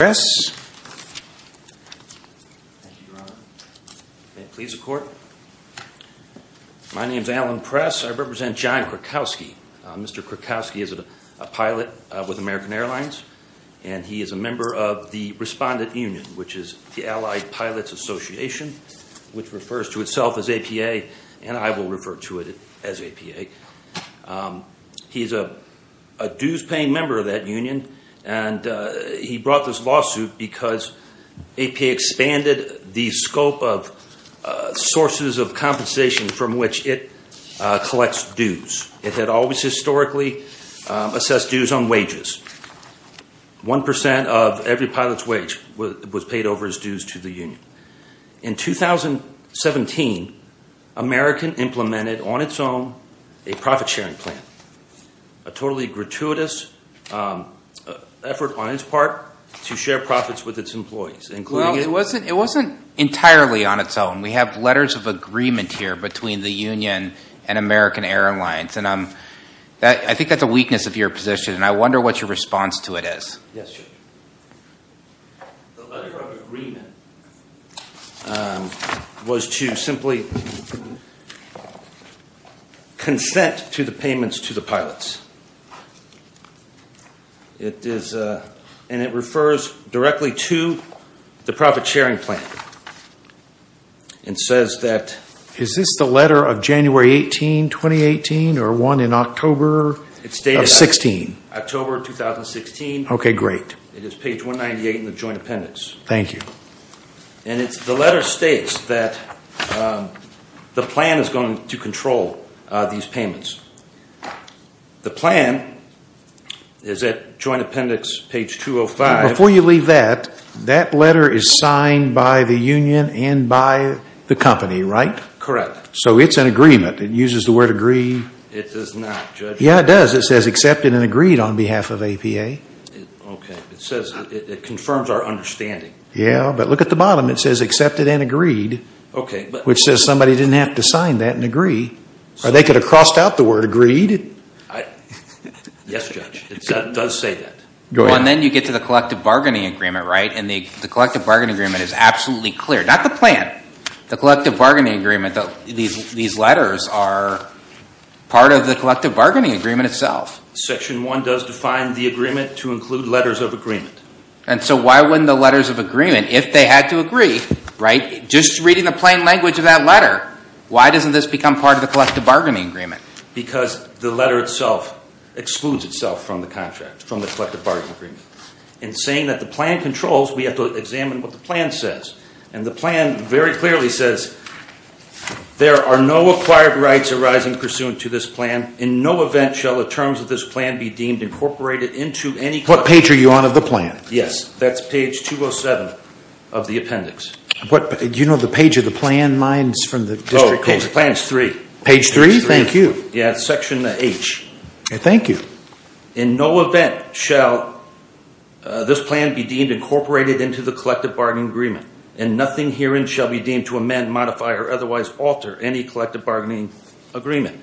I represent John Krakowski. Mr. Krakowski is a pilot with American Airlines and he is a member of the Respondent Union, which is the Allied Pilots Association, which refers to itself as APA and I will refer to it as APA. He is a dues-paying member of that union and he brought this lawsuit because APA expanded the scope of sources of compensation from which it collects dues. It had always historically assessed dues on wages. One percent of every pilot's wage was paid over his dues to the union. In 2017, American implemented on its own a profit-sharing plan, a totally gratuitous effort on its part to share profits with its employees. It wasn't entirely on its own. We have letters of agreement here between the union and American Airlines and I think that's a weakness of your position and I wonder what your response to it is. Yes, sir. The letter of agreement was to simply consent to the payments to the pilots. It refers directly to the profit-sharing plan. Is this the letter of January 18, 2018 or one in October of 16? It's dated October 2016. Okay, great. It is page 198 in the joint appendix. Thank you. And the letter states that the plan is going to control these payments. The plan is at joint appendix page 205. Before you leave that, that letter is signed by the union and by the company, right? Correct. So it's an agreement. It uses the word agree. It does not, Judge. Yeah, it does. It says accepted and agreed on behalf of APA. Okay. It says it confirms our understanding. Yeah, but look at the bottom. It says accepted and agreed. Okay. Which says somebody didn't have to sign that and agree or they could have crossed out the word agreed. Yes, Judge. It does say that. Go ahead. And then you get to the collective bargaining agreement, and the collective bargaining agreement is absolutely clear. Not the plan. The collective bargaining agreement, these letters are part of the collective bargaining agreement itself. Section 1 does define the agreement to include letters of agreement. And so why wouldn't the letters of agreement, if they had to agree, just reading the plain language of that letter, why doesn't this become part of the collective bargaining agreement? Because the letter itself excludes itself from the contract, from the collective bargaining agreement. In saying that the plan controls, we have to examine what the plan says. And the plan very clearly says, there are no acquired rights arising pursuant to this plan. In no event shall the terms of this plan be deemed incorporated into any- What page are you on of the plan? Yes, that's page 207 of the appendix. What, do you know the page of the plan, mine's from the district- Oh, the plan's three. Page three, thank you. Yeah, it's section H. Okay, thank you. In no event shall this plan be deemed incorporated into the collective bargaining agreement, and nothing herein shall be deemed to amend, modify, or otherwise alter any collective bargaining agreement.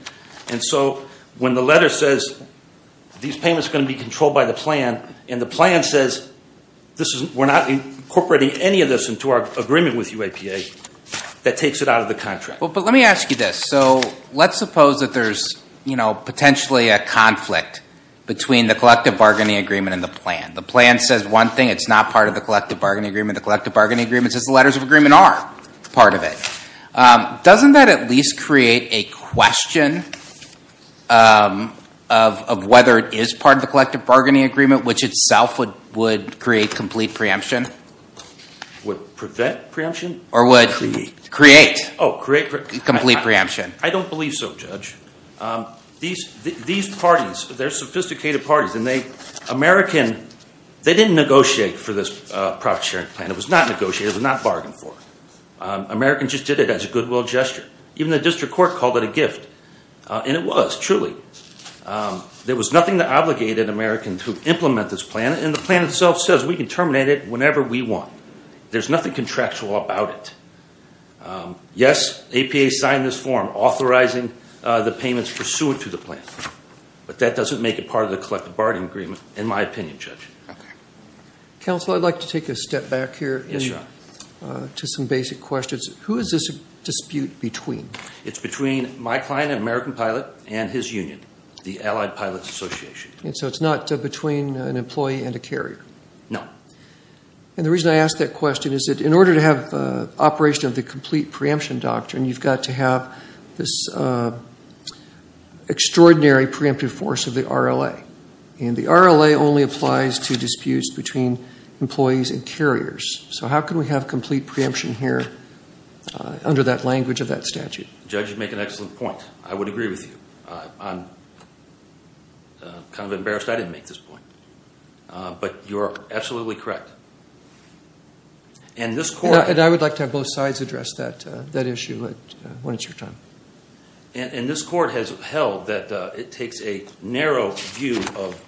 And so when the letter says these payments are going to be controlled by the plan, and the plan says we're not incorporating any of this into our agreement with UAPA, that takes it out of the contract. But let me ask you this. So let's suppose that there's potentially a conflict between the collective bargaining agreement and the plan. The plan says one thing, it's not part of the collective bargaining agreement. The collective bargaining agreement says the letters of agreement are part of it. Doesn't that at least create a question of whether it is part of the collective bargaining agreement, which itself would create complete preemption? Would prevent preemption? Or would create complete preemption? I don't believe so, Judge. These parties, they're sophisticated parties, and they didn't negotiate for this profit-sharing plan. It was not negotiated, it was not bargained for. Americans just did it as a goodwill gesture. Even the district court called it a gift, and it was, truly. There was nothing that obligated Americans to implement this plan, and the plan itself says we can terminate it whenever we want. There's nothing contractual about it. Yes, APA signed this form authorizing the payments pursuant to the plan, but that doesn't make it part of the collective bargaining agreement, in my opinion, Judge. Okay. Counsel, I'd like to take a step back here to some basic questions. Who is this dispute between? It's between my client, American Pilot, and his union, the Allied Pilots Association. And so it's not between an employee and a carrier? No. And the reason I ask that question is that in order to have operation of the complete preemption doctrine, you've got to have this extraordinary preemptive force of the RLA. And the RLA only applies to disputes between employees and carriers. So how can we have complete preemption here under that language of that statute? Judge, you make an excellent point. I would agree with you. I'm kind of embarrassed I didn't make this point, but you're absolutely correct. And this court- And I would like to have both sides address that issue when it's your time. And this court has held that it takes a narrow view of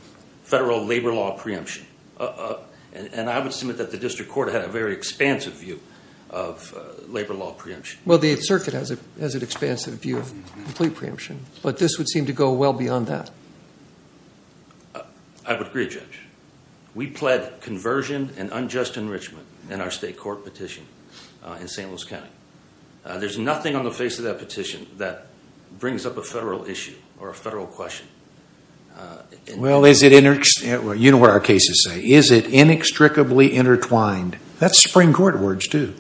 federal labor law preemption. And I would submit that the district court had a very expansive view of labor law preemption. Well, the State Circuit has an expansive view of complete preemption. But this would seem to go well beyond that. I would agree, Judge. We pled conversion and unjust enrichment in our state court petition in St. Louis County. There's nothing on the face of that petition that brings up a federal issue or a federal question. Well, you know what our cases say. Is it inextricably intertwined? That's what it says.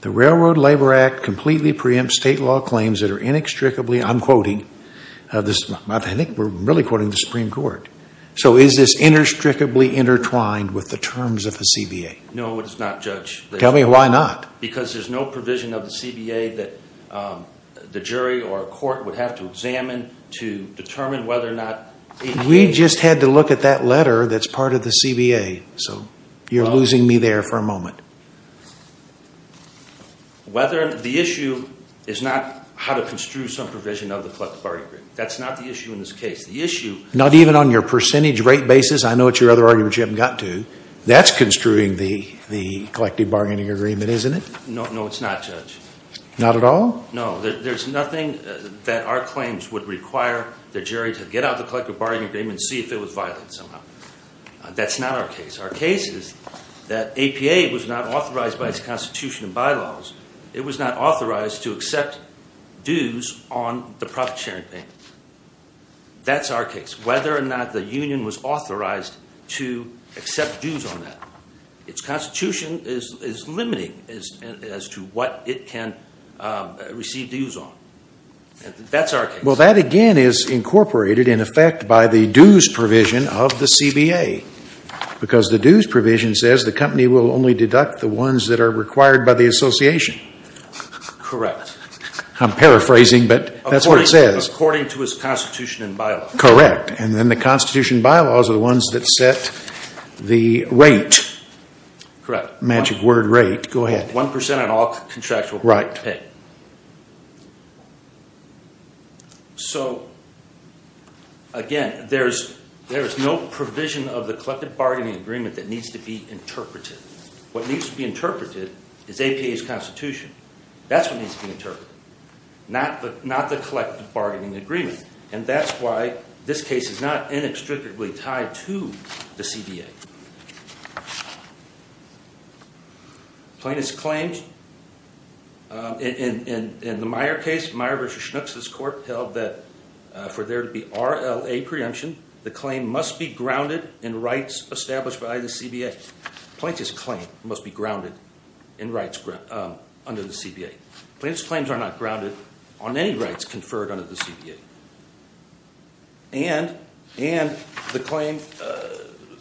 The Railroad Labor Act completely preempts state law claims that are inextricably, I'm quoting, I think we're really quoting the Supreme Court. So is this inextricably intertwined with the terms of the CBA? No, it's not, Judge. Tell me why not. Because there's no provision of the CBA that the jury or court would have to examine to determine whether or not- We just had to look at that whether the issue is not how to construe some provision of the collective bargaining agreement. That's not the issue in this case. The issue- Not even on your percentage rate basis? I know it's your other argument you haven't got to. That's construing the collective bargaining agreement, isn't it? No, it's not, Judge. Not at all? No, there's nothing that our claims would require the jury to get out of the collective bargaining agreement and see if it was violent somehow. That's not our case. Our case is that APA was not authorized by its constitution and bylaws. It was not authorized to accept dues on the profit sharing payment. That's our case, whether or not the union was authorized to accept dues on that. Its constitution is limiting as to what it can receive dues on. That's our case. Well, that again is incorporated in effect by the dues provision of the CBA, because the dues provision says the company will only deduct the ones that are required by the association. Correct. I'm paraphrasing, but that's what it says. According to its constitution and bylaws. Correct. Then the constitution and bylaws are the ones that set the rate. Correct. Magic word rate. Go ahead. One percent on all contractual pay. Okay. So again, there's no provision of the collective bargaining agreement that needs to be interpreted. What needs to be interpreted is APA's constitution. That's what needs to be interpreted, not the collective bargaining agreement. That's why this case is not inextricably tied to the CBA. Plaintiff's claims in the Meyer case, Meyer versus Schnucks, this court held that for there to be RLA preemption, the claim must be grounded in rights established by the CBA. Plaintiff's claim must be grounded in rights under the CBA. Plaintiff's claims are not grounded on any rights conferred under the CBA. And the claim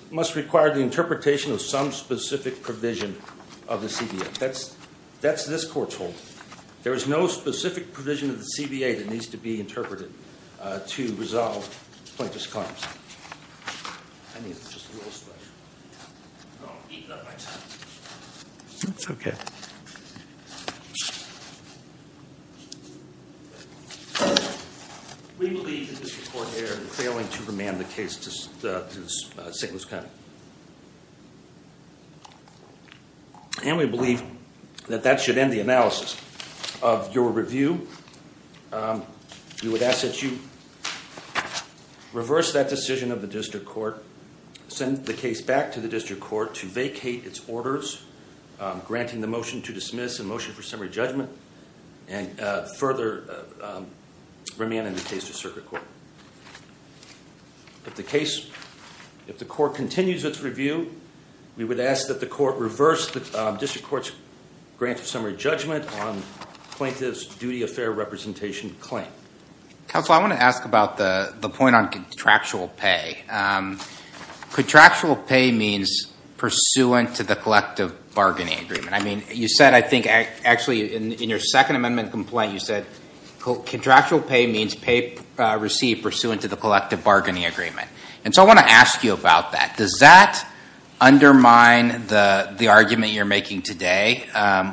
must require the interpretation of some specific provision of the CBA. That's this court's hold. There is no specific provision of the CBA that needs to be interpreted to resolve plaintiff's claims. I think it's just a little slush. I've eaten up my time. It's okay. We believe that this court here is failing to remand the case to the sickness county. And we believe that that should end the analysis of your review. We would ask that you reverse that decision of the district court, send the case back to the district court to vacate its orders, granting the motion to dismiss and motion for summary judgment and further remand the case to circuit court. If the case, if the court continues its review, we would ask that the court reverse the district court's grant of summary judgment on plaintiff's duty of fair representation claim. Counsel, I want to ask about the point on contractual pay. Contractual pay means pursuant to the collective bargaining agreement. I mean, you said I think actually in your second amendment complaint, you said contractual pay means pay received pursuant to the collective bargaining agreement. And so I want to ask you about that. Does that undermine the argument you're making today,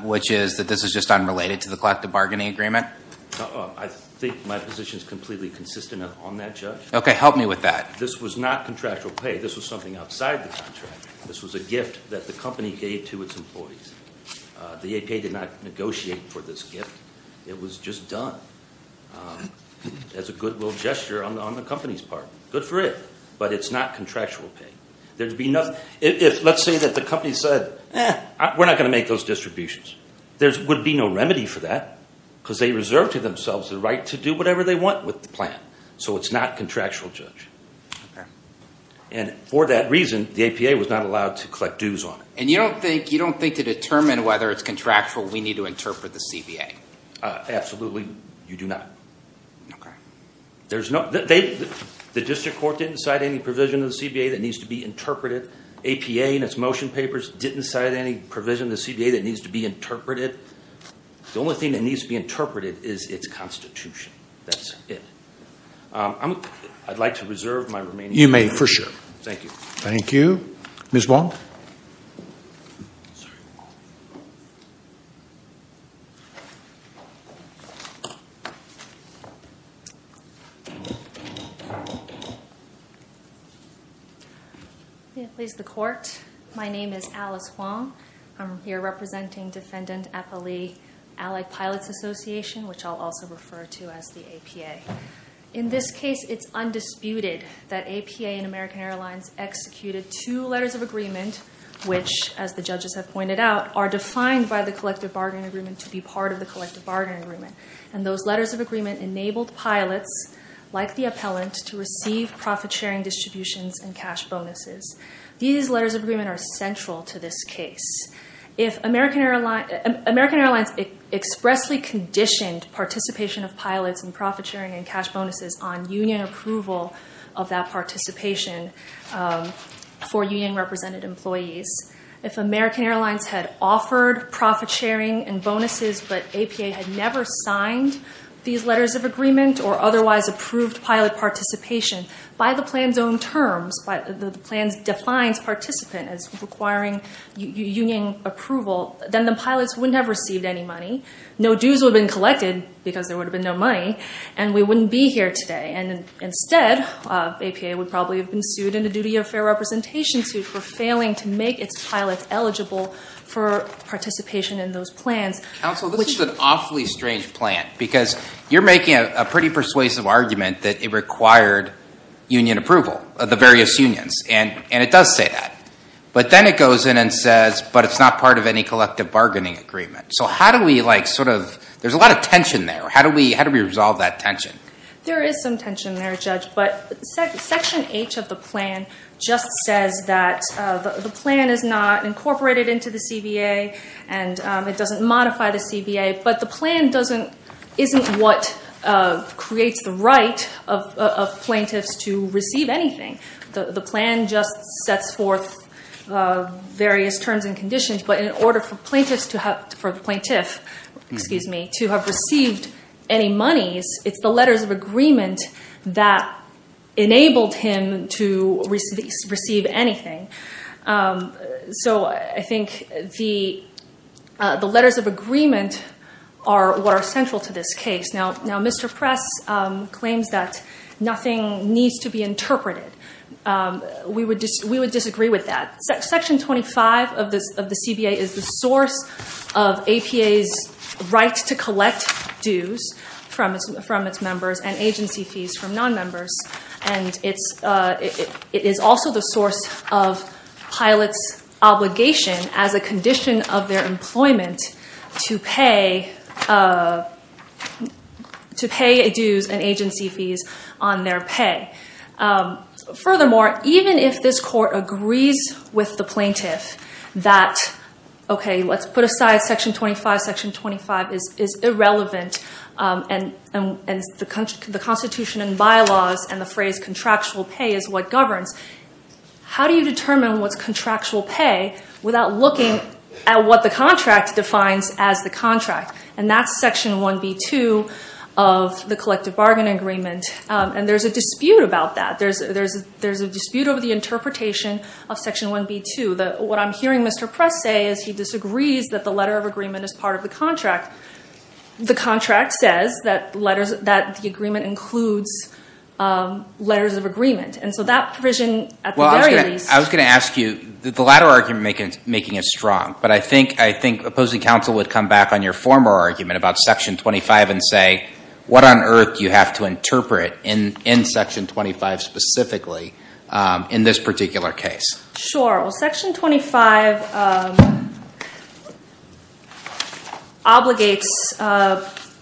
which is that this is just unrelated to the collective bargaining agreement? I think my position is completely consistent on that, Judge. Okay, help me with that. This was not contractual pay. This was something outside the contract. This was a gift that the company gave to its employees. The APA did not negotiate for this gift. It was just done as a goodwill gesture on the company's part. Good for it, but it's not contractual pay. There'd be nothing, if let's say that the company said, eh, we're not going to make those distributions. There would be no remedy for that because they reserved to themselves the right to do whatever they want with the plan. So it's not contractual, Judge. And for that reason, the APA was not allowed to collect dues on it. And you don't think to determine whether it's contractual, we need to interpret the CBA? Absolutely, you do not. Okay. The district court didn't cite any provision in the CBA that needs to be interpreted. APA in its motion papers didn't cite any provision in the CBA that needs to be interpreted. The only thing that needs to be interpreted is its constitution. That's it. I'd like to reserve my remaining time. You may, for sure. Thank you. Thank you. Ms. Wong? May it please the court. My name is Alice Wong. I'm here representing Defendant Effa Lee Allied Pilots Association, which I'll also refer to as the APA. In this case, it's undisputed that APA and American Airlines executed two letters of agreement, which, as the judges have pointed out, are defined by the collective bargaining agreement to be part of the collective bargaining agreement. And those letters of agreement enabled pilots, like the appellant, to receive profit-sharing distributions and cash bonuses. These letters of agreement are central to this case. If American Airlines expressly conditioned participation of pilots and that participation for union-represented employees, if American Airlines had offered profit-sharing and bonuses but APA had never signed these letters of agreement or otherwise approved pilot participation by the plan's own terms, the plan defines participant as requiring union approval, then the pilots wouldn't have received any money. No dues would have been sued and a duty of fair representation sued for failing to make its pilots eligible for participation in those plans. Counsel, this is an awfully strange plan because you're making a pretty persuasive argument that it required union approval of the various unions. And it does say that. But then it goes in and says, but it's not part of any collective bargaining agreement. So how do we, like, sort of, there's a lot of tension there. How do we resolve that tension? There is some tension there, Judge. But Section H of the plan just says that the plan is not incorporated into the CBA and it doesn't modify the CBA. But the plan doesn't, isn't what creates the right of plaintiffs to receive anything. The plan just sets forth various terms and conditions. But in order for plaintiffs to have, for the plaintiff, excuse me, to have received any monies, it's the letters of agreement that enabled him to receive anything. So I think the letters of agreement are what are central to this case. Now, Mr. Press claims that nothing needs to be interpreted. We would disagree with that. Section 25 of the CBA is the source of APA's right to collect dues from its members and agency fees from nonmembers. And it is also the source of pilots' obligation as a condition of their employment to pay dues and agency fees on their pay. Furthermore, even if this Court agrees with the plaintiff that, okay, let's put aside Section 25. Section 25 is irrelevant. And the Constitution and bylaws and the phrase contractual pay is what governs. How do you determine what's contractual pay without looking at what the contract defines as the contract? And that's Section 1B2 of the Collective Bargain Agreement. And there's a dispute about that. There's a dispute over the interpretation of Section 1B2. What I'm hearing Mr. Press say is he disagrees that the letter of agreement is part of the contract. The contract says that the agreement includes letters of agreement. And so that provision at the very least— Well, I was going to ask you, the latter argument making it strong. But I think opposing counsel would come back on your former argument about Section 25 and say, what on earth do you have to interpret in Section 25 specifically in this particular case? Sure. Well, Section 25 obligates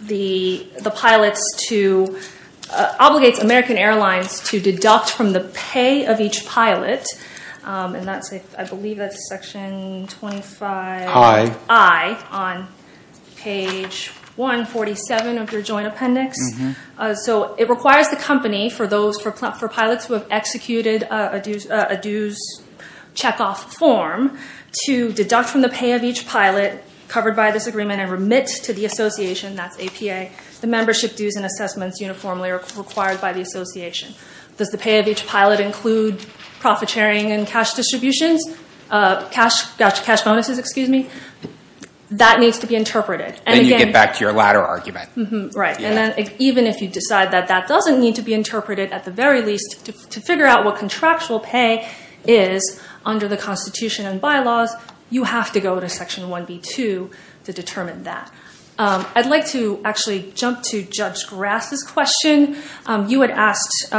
the pilots to—obligates American Airlines to deduct from the joint appendix. So it requires the company for pilots who have executed a dues checkoff form to deduct from the pay of each pilot covered by this agreement and remit to the association, that's APA, the membership dues and assessments uniformly required by the association. Does the pay of each pilot include profit sharing and cash distributions? Cash bonuses, excuse me? That needs to be interpreted. And again— Then you get back to your latter argument. Right. And then even if you decide that that doesn't need to be interpreted at the very least to figure out what contractual pay is under the Constitution and bylaws, you have to go to Section 1B2 to determine that. I'd like to actually jump to Judge Grass's question. You had asked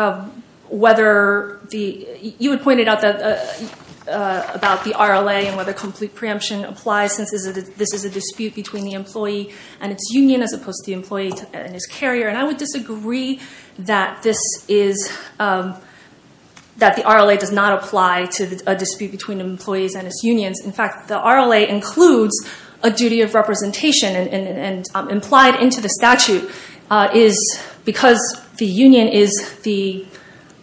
whether the—you had pointed out that—about the RLA and whether complete preemption applies since this is a dispute between the employee and its union as opposed to the employee and his carrier. And I would disagree that this is—that the RLA does not apply to a dispute between employees and its unions. In fact, the RLA includes a duty of representation and implied into the statute is because the union is the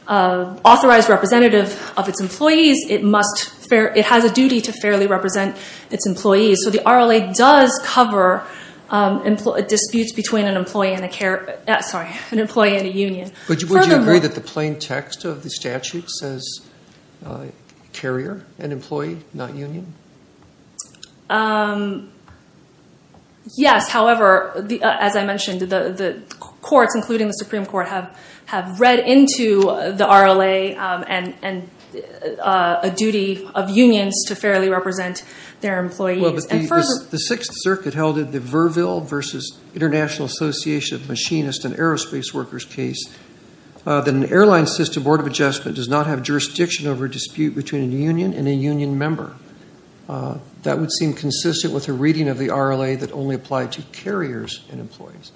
authorized representative of its employees, it must—it RLA does cover disputes between an employee and a—sorry, an employee and a union. But would you agree that the plain text of the statute says carrier and employee, not union? Yes. However, as I mentioned, the courts, including the Supreme Court, have read into the RLA and a duty of unions to fairly represent their employees. Well, but the Sixth Circuit held that the Verville versus International Association of Machinists and Aerospace Workers case, that an airline system board of adjustment does not have jurisdiction over a dispute between a union and a union member. That would seem consistent with a reading of the RLA that only applied to carriers and employees.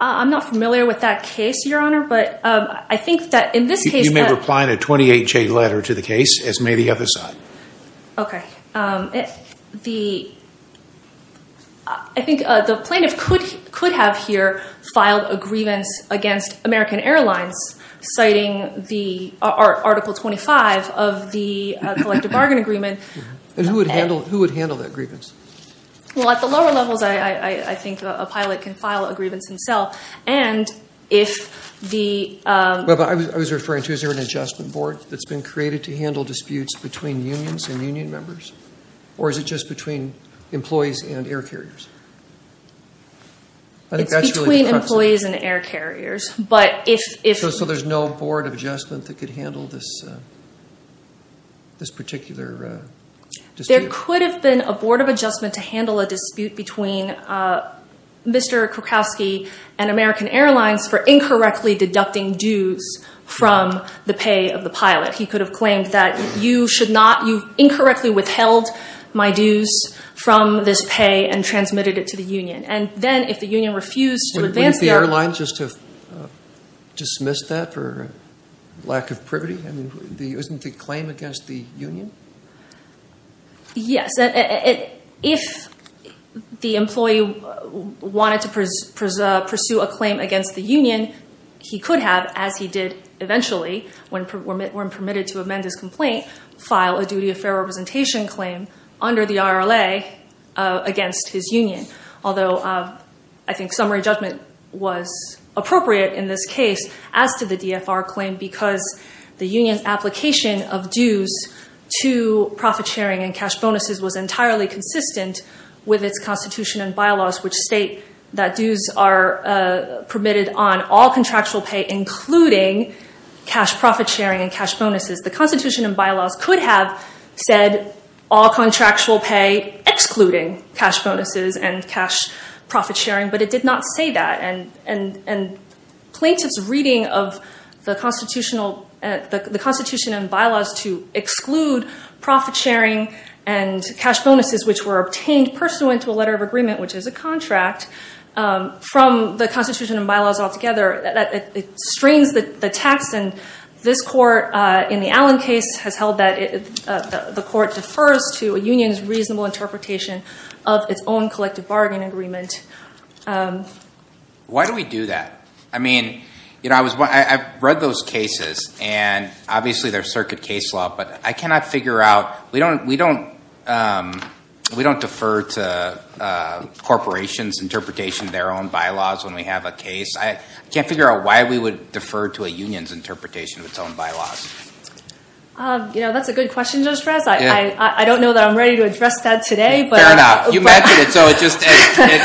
I'm not familiar with that case, Your Honor, but I think that in this case— You may reply in a 28-J letter to the case, as may the other side. Okay. The—I think the plaintiff could have here filed a grievance against American Airlines citing the Article 25 of the Collective Bargain Agreement. And who would handle that grievance? Well, at the lower levels, I think a pilot can file a grievance himself. And if the— Well, but I was referring to, is there an adjustment board that's been created to handle disputes between unions and union members? Or is it just between employees and air carriers? I think that's really— It's between employees and air carriers. But if— So there's no board of adjustment that could handle this particular dispute? There could have been a board of adjustment to handle a dispute between Mr. Krakowski and American Airlines for incorrectly deducting dues from the pay of the pilot. He could have claimed that you should not—you've incorrectly withheld my dues from this pay and transmitted it to the union. And then if the union refused to advance their— Wouldn't the airline just have dismissed that for lack of privity? I mean, isn't the claim against the union? Yes. If the employee wanted to pursue a claim against the union, he could have, as he did eventually, when permitted to amend his complaint, file a duty of fair representation claim under the RLA against his union. Although I think summary judgment was appropriate in this case as to the DFR claim, because the union's application of dues to profit-sharing and cash bonuses was entirely consistent with its constitution and bylaws, which state that dues are permitted on all contractual pay, including cash profit-sharing and cash bonuses. The constitution and bylaws could have said all contractual pay, excluding cash bonuses and cash profit-sharing, but it did not say that. And plaintiff's reading of the constitution and bylaws to exclude profit-sharing and cash bonuses, which were obtained pursuant to a letter of agreement, which is a contract, from the constitution and bylaws altogether, it strains the text. And this court in the Allen case has held that the court defers to a union's interpretation. Why do we do that? I mean, I've read those cases and obviously there's circuit case law, but I cannot figure out, we don't defer to corporations' interpretation of their own bylaws when we have a case. I can't figure out why we would defer to a union's interpretation of its own bylaws. You know, that's a good question, Judge Rez. I don't know that I'm ready to address that today. Fair enough. You mentioned it,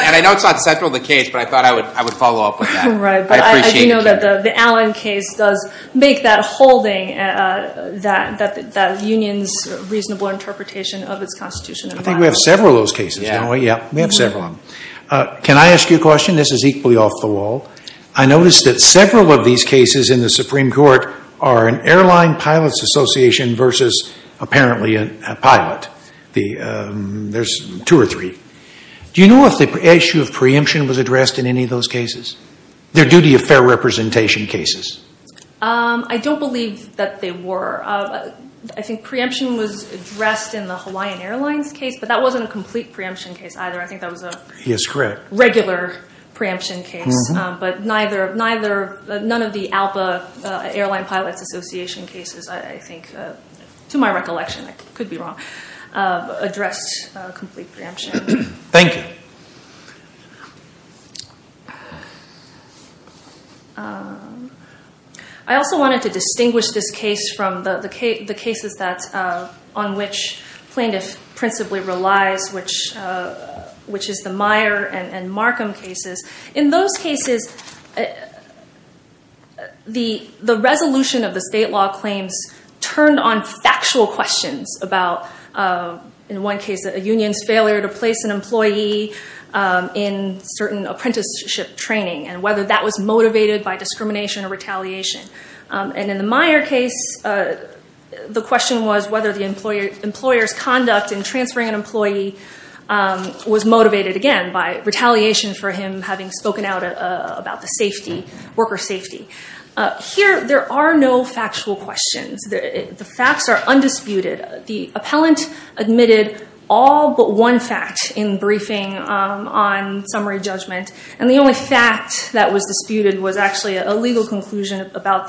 and I know it's not central to the case, but I thought I would follow up with that. Right, but I do know that the Allen case does make that holding that union's reasonable interpretation of its constitution and bylaws. I think we have several of those cases, don't we? Yeah, we have several of them. Can I ask you a question? This is equally off the wall. I noticed that several of these cases in the Supreme Court are an airline pilot's association versus apparently a pilot. There's two or three. Do you know if the issue of preemption was addressed in any of those cases? They're duty of fair representation cases. I don't believe that they were. I think preemption was addressed in the Hawaiian Airlines case, but that wasn't a complete preemption case either. I think that was a regular preemption case, but none of the ALPA, Airline Pilots Association cases, I think, to my recollection, I could be wrong, addressed complete preemption. Thank you. I also wanted to distinguish this case from the cases on which plaintiff principally relies, which is the Meyer and Markham cases. In those cases, the resolution of the state law claims turned on factual questions about, in one case, a union's failure to place an employee in certain apprenticeship training and whether that was motivated by discrimination or retaliation. In the Meyer case, the question was whether the employer's conduct in transferring an employee was motivated, again, by retaliation for him having spoken out about the safety, worker safety. Here, there are no factual questions. The facts are undisputed. The appellant admitted all but one fact in briefing on summary judgment, and the only fact that was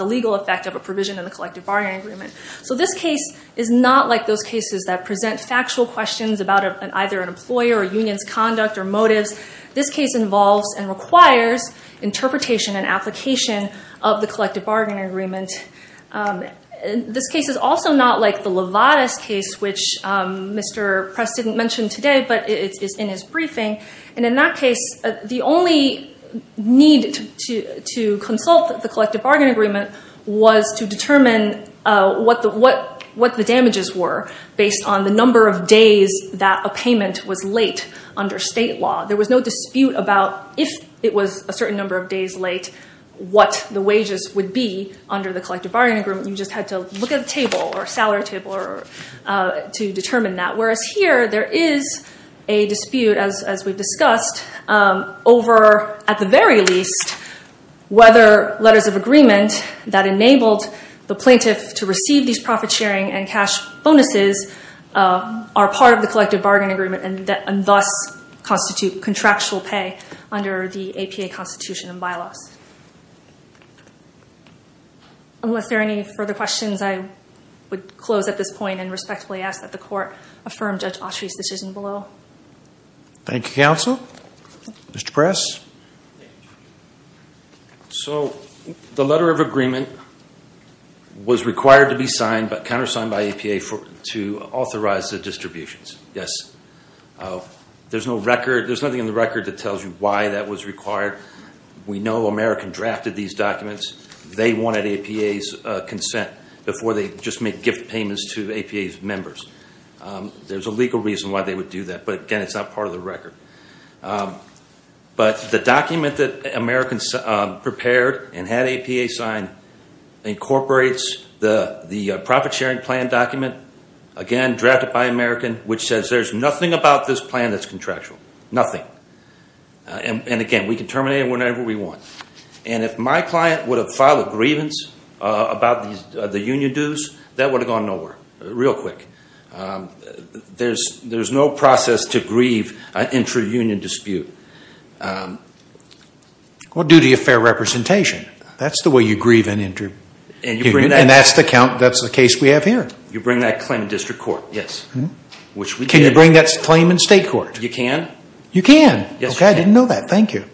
legal effect of a provision in the collective bargaining agreement. This case is not like those cases that present factual questions about either an employer or union's conduct or motives. This case involves and requires interpretation and application of the collective bargaining agreement. This case is also not like the Levadas case, which Mr. Press didn't mention today, but it's in his briefing. In that case, the only need to consult the collective bargaining agreement was to determine what the damages were based on the number of days that a payment was late under state law. There was no dispute about if it was a certain number of days late, what the wages would be under the collective bargaining agreement. You just had to look at the table or salary table to determine that. Whereas here, there is a dispute, as we've released, whether letters of agreement that enabled the plaintiff to receive these profit sharing and cash bonuses are part of the collective bargaining agreement and thus constitute contractual pay under the APA constitution and bylaws. Unless there are any further questions, I would close at this point and respectfully ask that the committee be adjourned. The letter of agreement was required to be signed but countersigned by APA to authorize the distributions. There's nothing in the record that tells you why that was required. We know American drafted these documents. They wanted APA's consent before they just made gift payments to APA's members. There's a legal reason why they would do that, but again, it's not part of the prepared and had APA sign, incorporates the profit sharing plan document, again, drafted by American, which says there's nothing about this plan that's contractual. Nothing. Again, we can terminate it whenever we want. If my client would have filed a grievance about the union dues, that would have gone nowhere real quick. There's no process to grieve intra-union dispute. Duty of fair representation. That's the way you grieve an intra-union and that's the case we have here. You bring that claim in district court. Yes. Can you bring that claim in state court? You can. You can. I didn't know that. Thank you.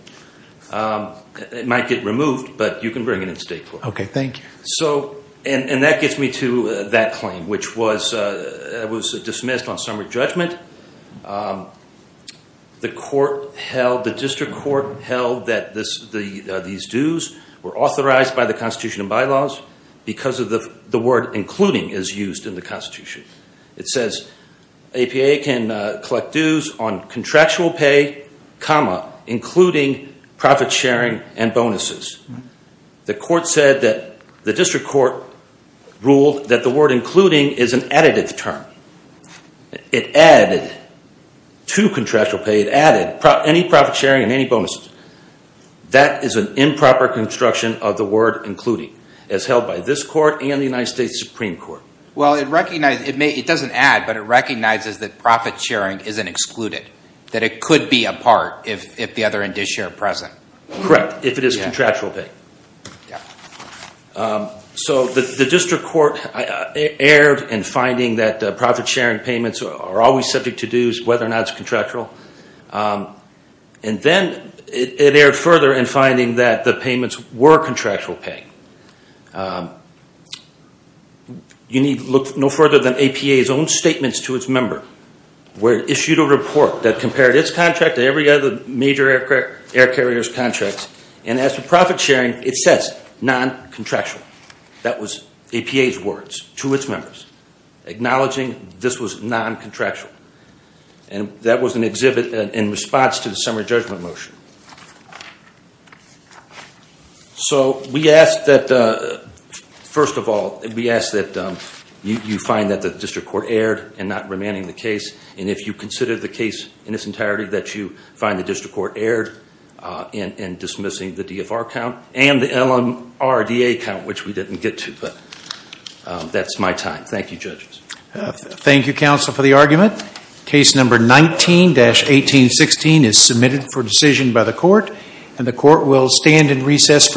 It might get removed, but you can bring it in state court. Okay. Thank you. That gets me to that claim, which was dismissed on summary judgment. The court held, the district court held that these dues were authorized by the constitution and bylaws because of the word including is used in the constitution. It says APA can collect dues on contractual pay, including profit sharing and bonuses. The court said that the district court ruled that the word including is an additive term. It added to contractual pay. It added any profit sharing and any bonuses. That is an improper construction of the word including as held by this court and the United States Supreme Court. It doesn't add, but it recognizes that profit sharing isn't excluded, that it could be a part if the other end is shared present. Correct. If it is contractual pay. Yeah. The district court erred in finding that profit sharing payments are always subject to dues, whether or not it's contractual. Then it erred further in finding that the payments were contractual pay. You need to look no further than APA's own statements to its member, where it issued a report that compared its contract to every other major air carrier's contract. As for profit sharing, it says non-contractual. That was APA's words to its members, acknowledging this was non-contractual. That was an exhibit in response to the summary judgment motion. First of all, we ask that you find that the district court erred in not remanding the case. If you consider the case in its entirety, that you find the district court erred in dismissing the DFR count and the LMRDA count, which we didn't get to. That's my time. Thank you, judges. Thank you, counsel, for the argument. Case number 19-1816 is submitted for decision by the court. And the court will stand in recess for